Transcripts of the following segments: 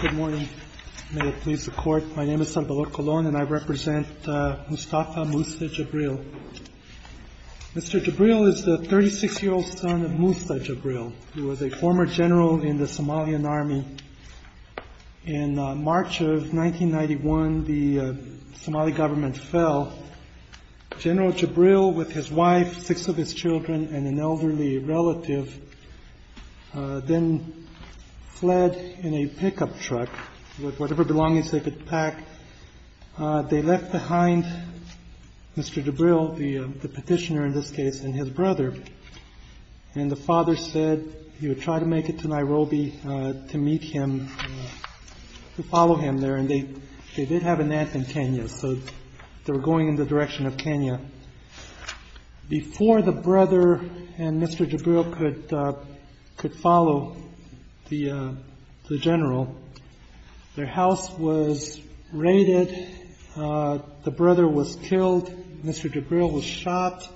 Good morning. May it please the court. My name is Salvador Colon and I represent Mustafa Musa Jibril. Mr. Jibril is the 36-year-old son of Musa Jibril. He was a former general in the Somalian army. In March of 1991, the Somali government fell. General Jibril, with his wife, six of his children and an elderly relative, then fled in a pickup truck with whatever belongings they could pack. They left behind Mr. Jibril, the petitioner in this case, and his brother. And the father said he would try to make it to Nairobi to meet him, to follow him there. And they did have an aunt in Kenya, so they were going in the direction of Kenya. Before the brother and Mr. Jibril could follow the general, their house was raided. The brother was killed. Mr. Jibril was shot.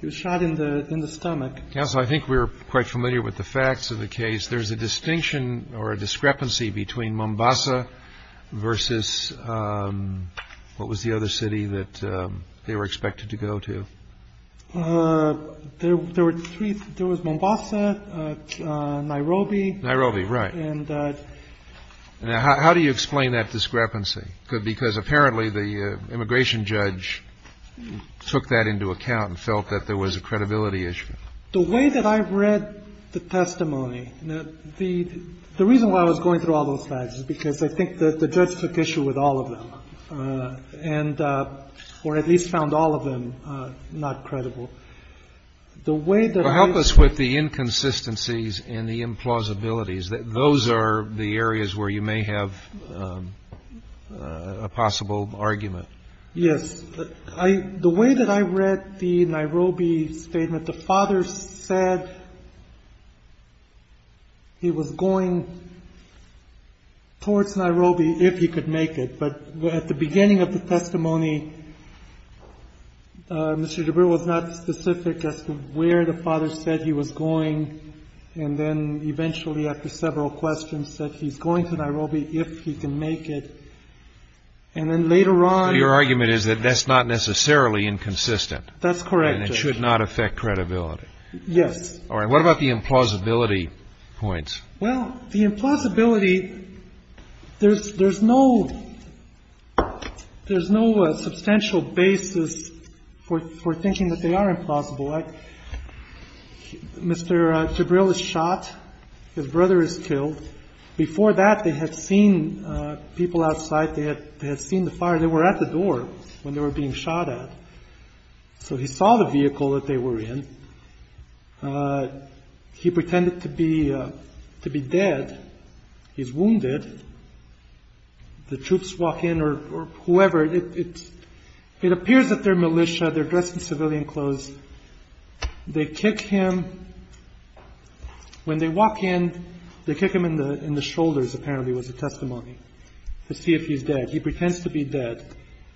He was shot in the stomach. Counsel, I think we're quite familiar with the facts of the case. There's a distinction or a discrepancy between Mombasa versus what was the other city that they were expected to go to. There were three. There was Mombasa, Nairobi. Nairobi, right. And how do you explain that discrepancy? Because apparently the immigration judge took that into account and felt that there was a credibility issue. The way that I read the testimony, the reason why I was going through all those facts is because I think that the judge took issue with all of them and or at least found all of them not credible. The way that I... Well, help us with the inconsistencies and the implausibilities. Those are the areas where you may have a possible argument. Yes. The way that I read the Nairobi statement, the father said he was going towards Nairobi if he could make it. But at the beginning of the testimony, Mr. Jibril was not specific as to where the father said he was going and then eventually, after several questions, said he's going to Nairobi if he can make it. And then later on... So your argument is that that's not necessarily inconsistent. That's correct. And it should not affect credibility. Yes. All right. What about the implausibility points? Well, the implausibility, there's no substantial basis for thinking that they are implausible. Mr. Jibril is shot. His brother is killed. Before that, they had seen people outside. They had seen the fire. They were at the door when they were being shot at. So he saw the vehicle that they were in. He pretended to be dead. He's wounded. The troops walk in or whoever. It appears that they're militia. They're dressed in civilian clothes. They kick him... When they walk in, they kick him in the shoulders, apparently, was the testimony, to see if he's dead. He pretends to be dead.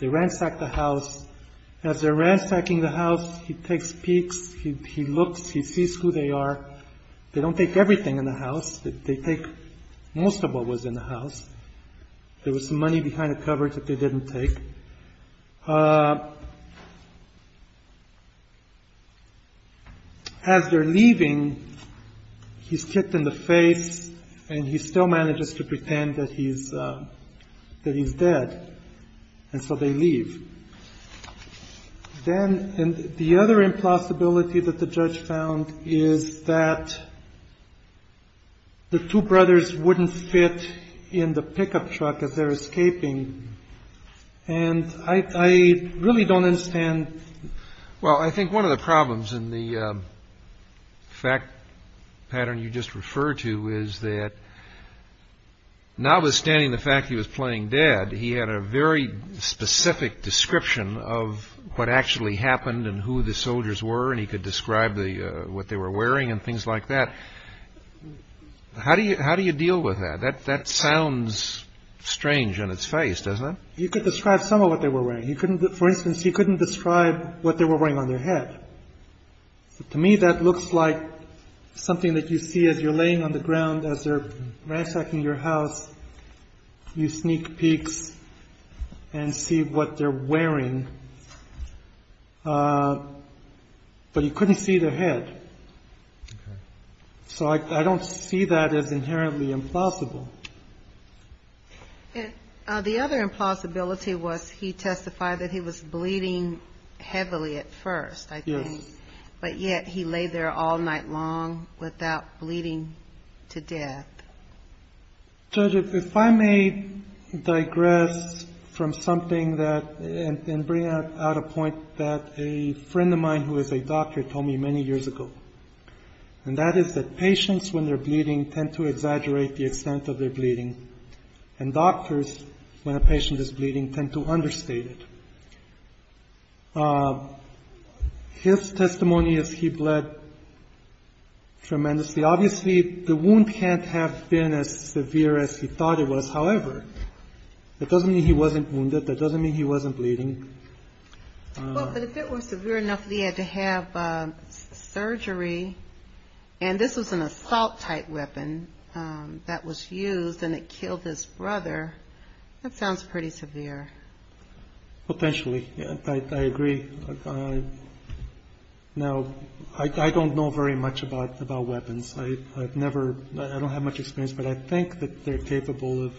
They ransack the house. As they're ransacking the house, he takes peeks. He looks. He sees who they are. They don't take everything in the house. They take most of what was in the house. There was some money behind the covers that they didn't take. As they're leaving, he's kicked in the face, and he still manages to pretend that he's dead. And so they leave. Then the other impossibility that the judge found is that the two brothers wouldn't fit in the pickup truck as they're escaping. And I really don't understand. Well, I think one of the problems in the fact pattern you just referred to is that, notwithstanding the fact he was playing dead, he had a very specific description of what actually happened and who the soldiers were, and he could describe what they were wearing and things like that. How do you deal with that? That sounds strange in its face, doesn't it? You could describe some of what they were wearing. For instance, he couldn't describe what they were wearing on their head. To me, that looks like something that you see as you're laying on the ground, as they're ransacking your house. You sneak peeks and see what they're wearing, but you couldn't see their head. So I don't see that as inherently implausible. The other impossibility was he testified that he was bleeding heavily at first, I think. Yes. But yet he lay there all night long without bleeding to death. Judge, if I may digress from something and bring out a point that a friend of mine who is a doctor told me many years ago, and that is that patients, when they're bleeding, tend to exaggerate the extent of their bleeding, and doctors, when a patient is bleeding, tend to understate it. His testimony is he bled tremendously. Obviously, the wound can't have been as severe as he thought it was. However, that doesn't mean he wasn't wounded. That doesn't mean he wasn't bleeding. Well, but if it was severe enough that he had to have surgery, and this was an assault-type weapon that was used and it killed his brother, that sounds pretty severe. Potentially. I agree. Now, I don't know very much about weapons. I've never ñ I don't have much experience, but I think that they're capable of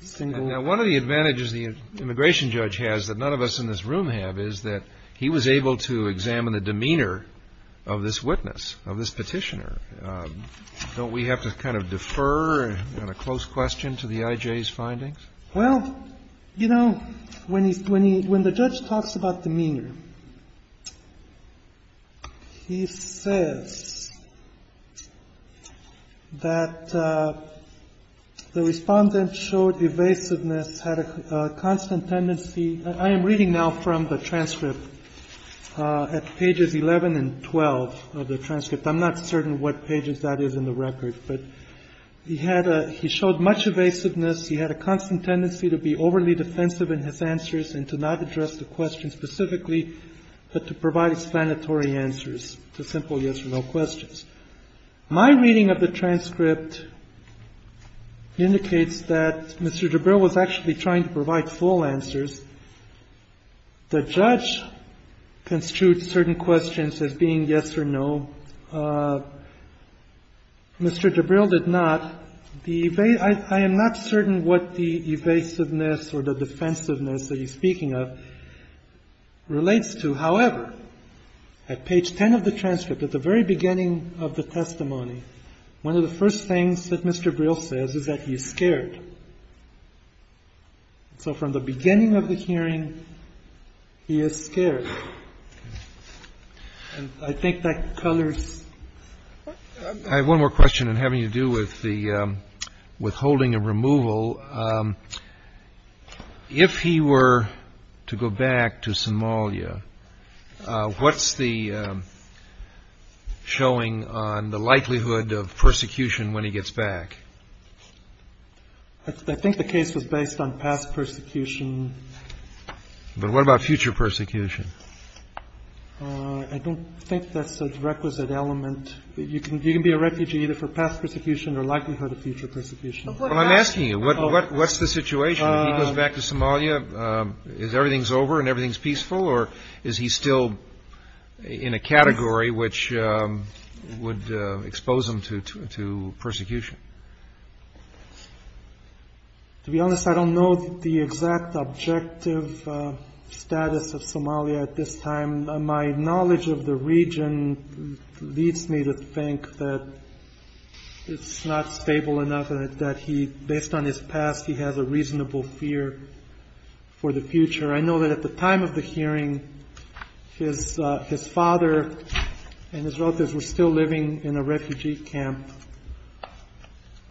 single- Now, one of the advantages the immigration judge has that none of us in this room have is that he was able to examine the demeanor of this witness, of this Petitioner. Don't we have to kind of defer on a close question to the IJ's findings? Well, you know, when the judge talks about demeanor, he says that the respondent showed evasiveness, had a constant tendency ñ I am reading now from the transcript at pages 11 and 12 of the transcript. I'm not certain what pages that is in the record. But he had a ñ he showed much evasiveness. He had a constant tendency to be overly defensive in his answers and to not address the question specifically, but to provide explanatory answers to simple yes-or-no questions. My reading of the transcript indicates that Mr. DeBrill was actually trying to provide full answers. The judge construed certain questions as being yes or no. Mr. DeBrill did not. I am not certain what the evasiveness or the defensiveness that he's speaking of relates to. However, at page 10 of the transcript, at the very beginning of the testimony, one of the first things that Mr. Brill says is that he's scared. So from the beginning of the hearing, he is scared. And I think that colors. I have one more question, and having to do with the withholding of removal. If he were to go back to Somalia, what's the showing on the likelihood of persecution when he gets back? I think the case was based on past persecution. But what about future persecution? I don't think that's a requisite element. You can be a refugee either for past persecution or likelihood of future persecution. Well, I'm asking you, what's the situation when he goes back to Somalia? Is everything's over and everything's peaceful? Or is he still in a category which would expose him to persecution? To be honest, I don't know the exact objective status of Somalia at this time. My knowledge of the region leads me to think that it's not stable enough and that based on his past, he has a reasonable fear for the future. I know that at the time of the hearing, his father and his relatives were still living in a refugee camp.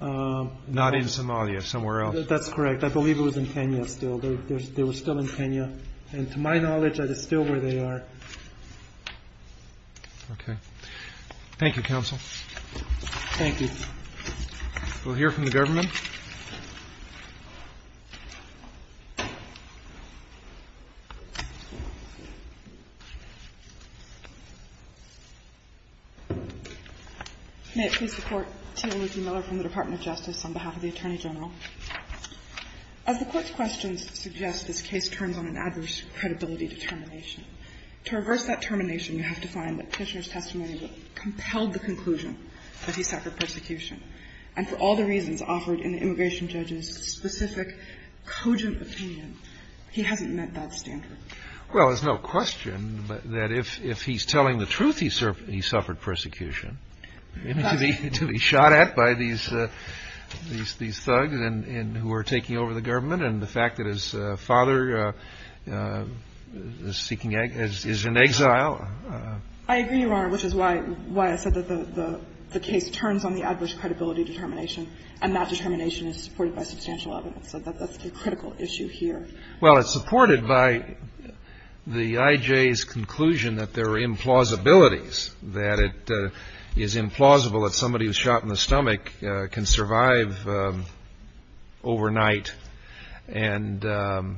Not in Somalia, somewhere else. That's correct. I believe it was in Kenya still. They were still in Kenya. And to my knowledge, that is still where they are. Okay. Thank you, Counsel. Thank you. We'll hear from the government. May it please the Court. Tina Luthi Miller from the Department of Justice on behalf of the Attorney General. As the Court's questions suggest, this case turns on an adverse credibility determination. To reverse that termination, you have to find that Kishner's testimony compelled the conclusion that he suffered persecution. And for all the reasons offered in the immigration judge's specific, cogent opinion, he hasn't met that standard. Well, there's no question that if he's telling the truth, he suffered persecution. I mean, to be shot at by these thugs and who are taking over the government and the fact that his father is seeking exile, is in exile. I agree, Your Honor, which is why I said that the case turns on the adverse credibility determination. And that determination is supported by substantial evidence. So that's the critical issue here. Well, it's supported by the IJ's conclusion that there are implausibilities, that it is implausible that somebody who's shot in the stomach can survive overnight and have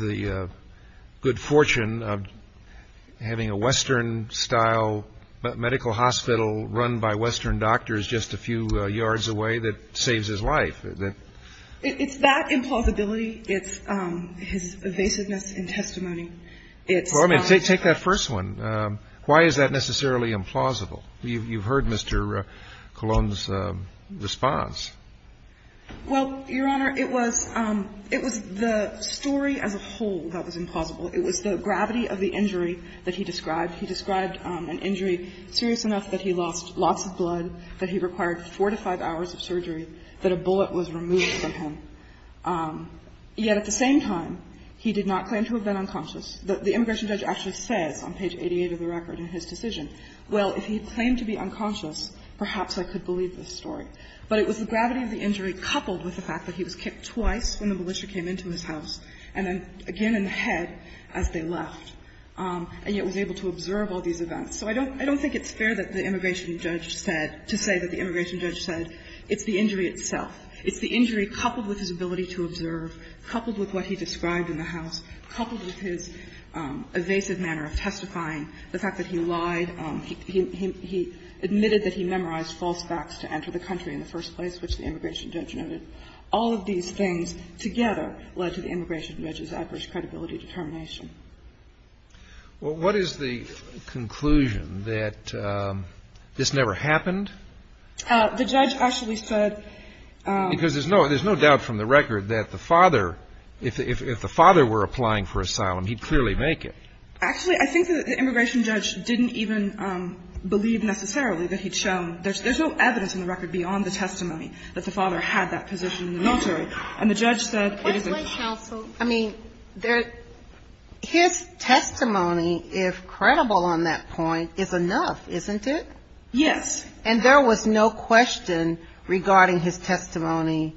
the good fortune of having a Western-style medical hospital run by Western doctors just a few yards away that saves his life. It's that implausibility. It's his evasiveness in testimony. Well, I mean, take that first one. Why is that necessarily implausible? You've heard Mr. Colon's response. Well, Your Honor, it was the story as a whole that was implausible. It was the gravity of the injury that he described. He described an injury serious enough that he lost lots of blood, that he required four to five hours of surgery, that a bullet was removed from him. Yet at the same time, he did not claim to have been unconscious. The immigration judge actually says on page 88 of the record in his decision, well, if he claimed to be unconscious, perhaps I could believe this story. But it was the gravity of the injury coupled with the fact that he was kicked twice when the militia came into his house, and then again in the head as they left, and yet was able to observe all these events. So I don't think it's fair that the immigration judge said to say that the immigration judge said it's the injury itself. It's the injury coupled with his ability to observe, coupled with what he described in the house, coupled with his evasive manner of testifying, the fact that he lied, he admitted that he memorized false facts to enter the country in the first place, which the immigration judge noted. All of these things together led to the immigration judge's adverse credibility determination. Well, what is the conclusion, that this never happened? The judge actually said that the father, if the father had been unconscious, if the father were applying for asylum, he'd clearly make it. Actually, I think that the immigration judge didn't even believe necessarily that he'd shown. There's no evidence in the record beyond the testimony that the father had that position in the military. And the judge said it is a lie. I mean, his testimony, if credible on that point, is enough, isn't it? Yes. And there was no question regarding his testimony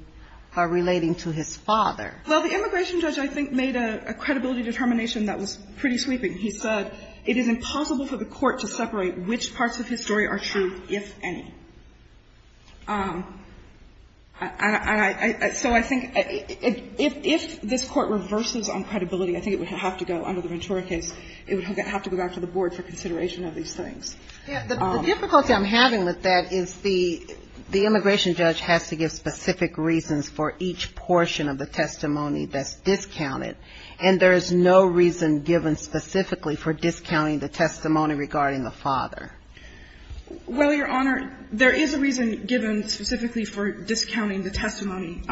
relating to his father. Well, the immigration judge, I think, made a credibility determination that was pretty sweeping. He said it is impossible for the court to separate which parts of his story are true, if any. So I think if this Court reverses on credibility, I think it would have to go under the Ventura case. It would have to go back to the board for consideration of these things. The difficulty I'm having with that is the immigration judge has to give specific reasons for each portion of the testimony that's discounted, and there is no reason given specifically for discounting the testimony regarding the father. Well, Your Honor, there is a reason given specifically for discounting the testimony.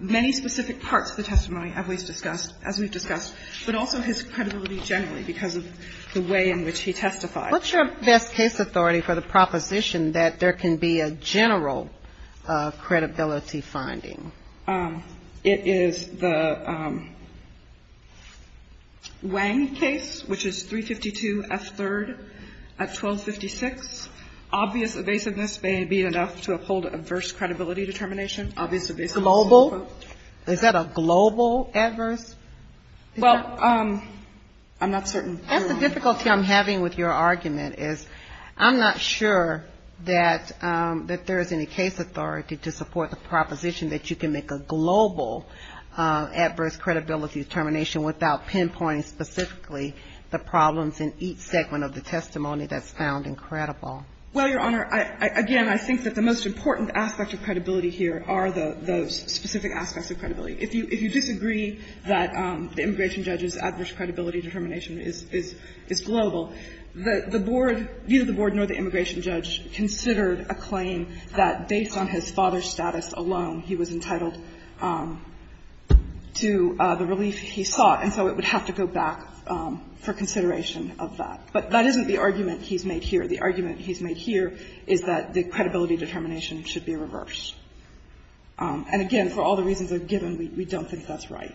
Many specific parts of the testimony, as we've discussed, but also his credibility generally because of the way in which he testified. What's your best case authority for the proposition that there can be a general credibility finding? It is the Wang case, which is 352 F. 3rd at 1256. Obvious evasiveness may be enough to uphold adverse credibility determination. Global? Is that a global adverse? Well, I'm not certain. The difficulty I'm having with your argument is I'm not sure that there is any case authority to support the proposition that you can make a global adverse credibility determination without pinpointing specifically the problems in each segment of the testimony that's found incredible. Well, Your Honor, again, I think that the most important aspect of credibility here are those specific aspects of credibility. If you disagree that the immigration judge's adverse credibility determination is global, the board, neither the board nor the immigration judge, considered a claim that based on his father's status alone he was entitled to the relief he sought, and so it would have to go back for consideration of that. But that isn't the argument he's made here. The argument he's made here is that the credibility determination should be reversed. And, again, for all the reasons I've given, we don't think that's right.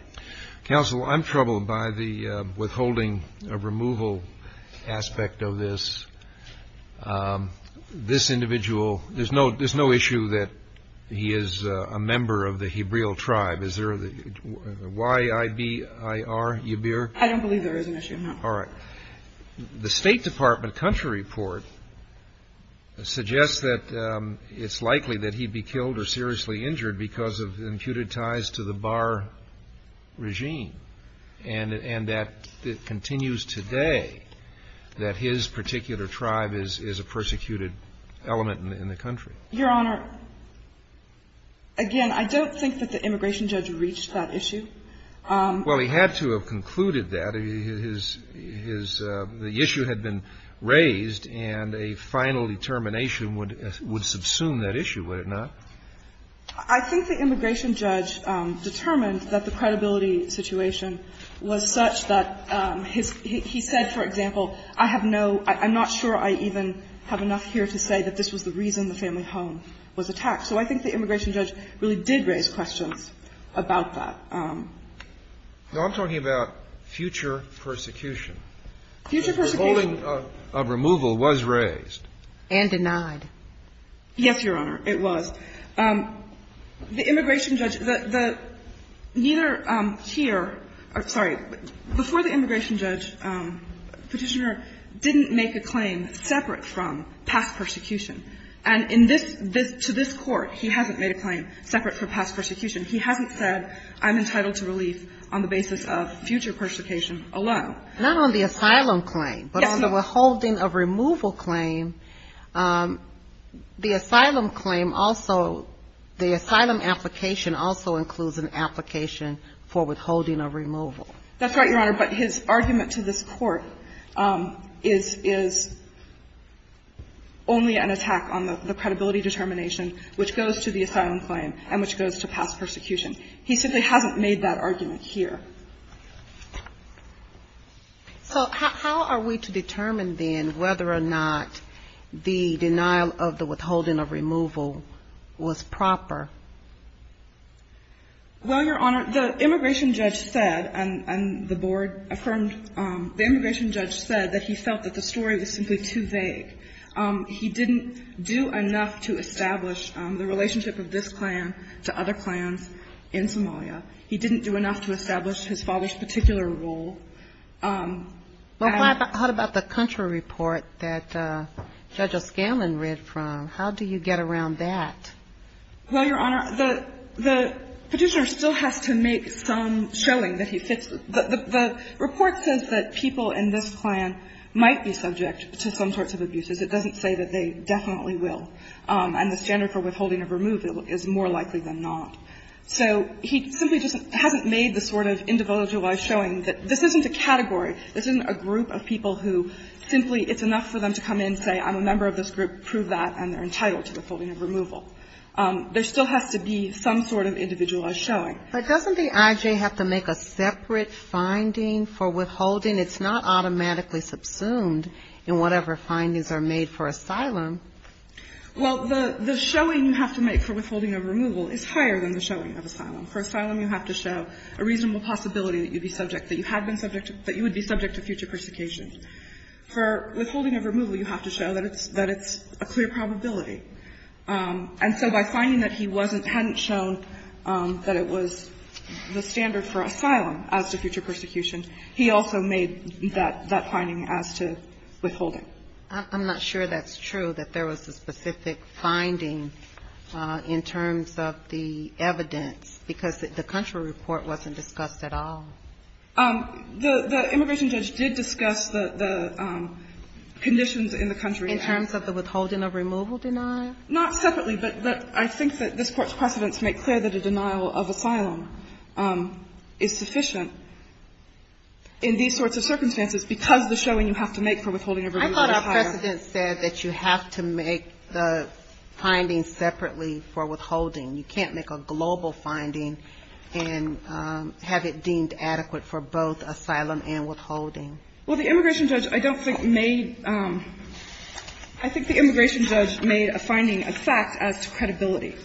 Counsel, I'm troubled by the withholding of removal aspect of this. This individual, there's no issue that he is a member of the Hebraeal tribe. Is there a Y-I-B-I-R, Yibir? I don't believe there is an issue. All right. The State Department country report suggests that it's likely that he'd be killed or seriously injured because of imputed ties to the bar regime, and that it continues today that his particular tribe is a persecuted element in the country. Your Honor, again, I don't think that the immigration judge reached that issue. Well, he had to have concluded that. His issue had been raised, and a final determination would subsume that issue, would it not? I think the immigration judge determined that the credibility situation was such that he said, for example, I have no — I'm not sure I even have enough here to say that this was the reason the family home was attacked. So I think the immigration judge really did raise questions about that. Now, I'm talking about future persecution. Future persecution. The ruling of removal was raised. And denied. Yes, Your Honor, it was. The immigration judge, the — neither here — sorry. Before the immigration judge, Petitioner didn't make a claim separate from past persecution. And in this — to this Court, he hasn't made a claim separate from past persecution. He hasn't said, I'm entitled to relief on the basis of future persecution alone. Not on the asylum claim. Yes, Your Honor. But on the withholding of removal claim, the asylum claim also — the asylum application also includes an application for withholding of removal. That's right, Your Honor. But his argument to this Court is — is only an attack on the credibility determination which goes to the asylum claim and which goes to past persecution. He simply hasn't made that argument here. So how are we to determine then whether or not the denial of the withholding of removal was proper? Well, Your Honor, the immigration judge said, and the board affirmed, the immigration judge said that he felt that the story was simply too vague. He didn't do enough to establish the relationship of this plan to other plans in Somalia. He didn't do enough to establish his father's particular role. Well, what about the country report that Judge O'Scanlan read from? How do you get around that? Well, Your Honor, the Petitioner still has to make some showing that he fits — The report says that people in this plan might be subject to some sorts of abuses. It doesn't say that they definitely will. And the standard for withholding of removal is more likely than not. So he simply just hasn't made the sort of individualized showing that this isn't a category, this isn't a group of people who simply it's enough for them to come in, say I'm a member of this group, prove that, and they're entitled to withholding of removal. There still has to be some sort of individualized showing. But doesn't the I.J. have to make a separate finding for withholding? It's not automatically subsumed in whatever findings are made for asylum. Well, the showing you have to make for withholding of removal is higher than the showing of asylum. For asylum, you have to show a reasonable possibility that you'd be subject, that you had been subject, that you would be subject to future persecution. For withholding of removal, you have to show that it's a clear probability. And so by finding that he wasn't, hadn't shown that it was the standard for asylum as to future persecution, he also made that finding as to withholding. I'm not sure that's true, that there was a specific finding in terms of the evidence, because the country report wasn't discussed at all. The immigration judge did discuss the conditions in the country. In terms of the withholding of removal denial? Not separately, but I think that this Court's precedents make clear that a denial of asylum is sufficient in these sorts of circumstances because the showing you have to make for withholding of removal is higher. I thought our precedents said that you have to make the findings separately for withholding. You can't make a global finding and have it deemed adequate for both asylum and withholding. Well, the immigration judge, I don't think, made – I think the immigration judge made a finding, a fact, as to credibility.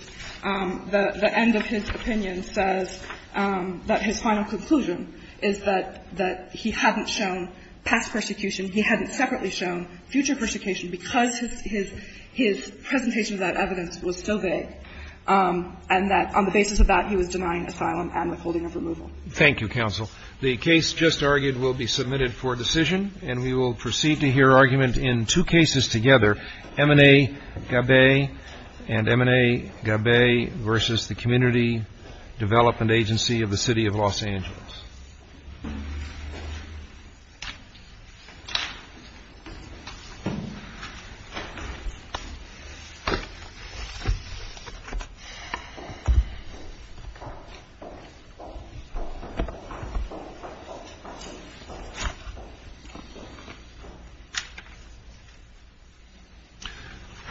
The end of his opinion says that his final conclusion is that he hadn't shown past persecution, he hadn't separately shown future persecution because his presentation of that evidence was so vague, and that on the basis of that, he was denying asylum and withholding of removal. Thank you, counsel. The case just argued will be submitted for decision, and we will proceed to hear argument in two cases together, M&A Gabay and M&A Gabay versus the Community Development Agency of the City of Los Angeles.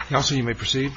Counsel, you may proceed.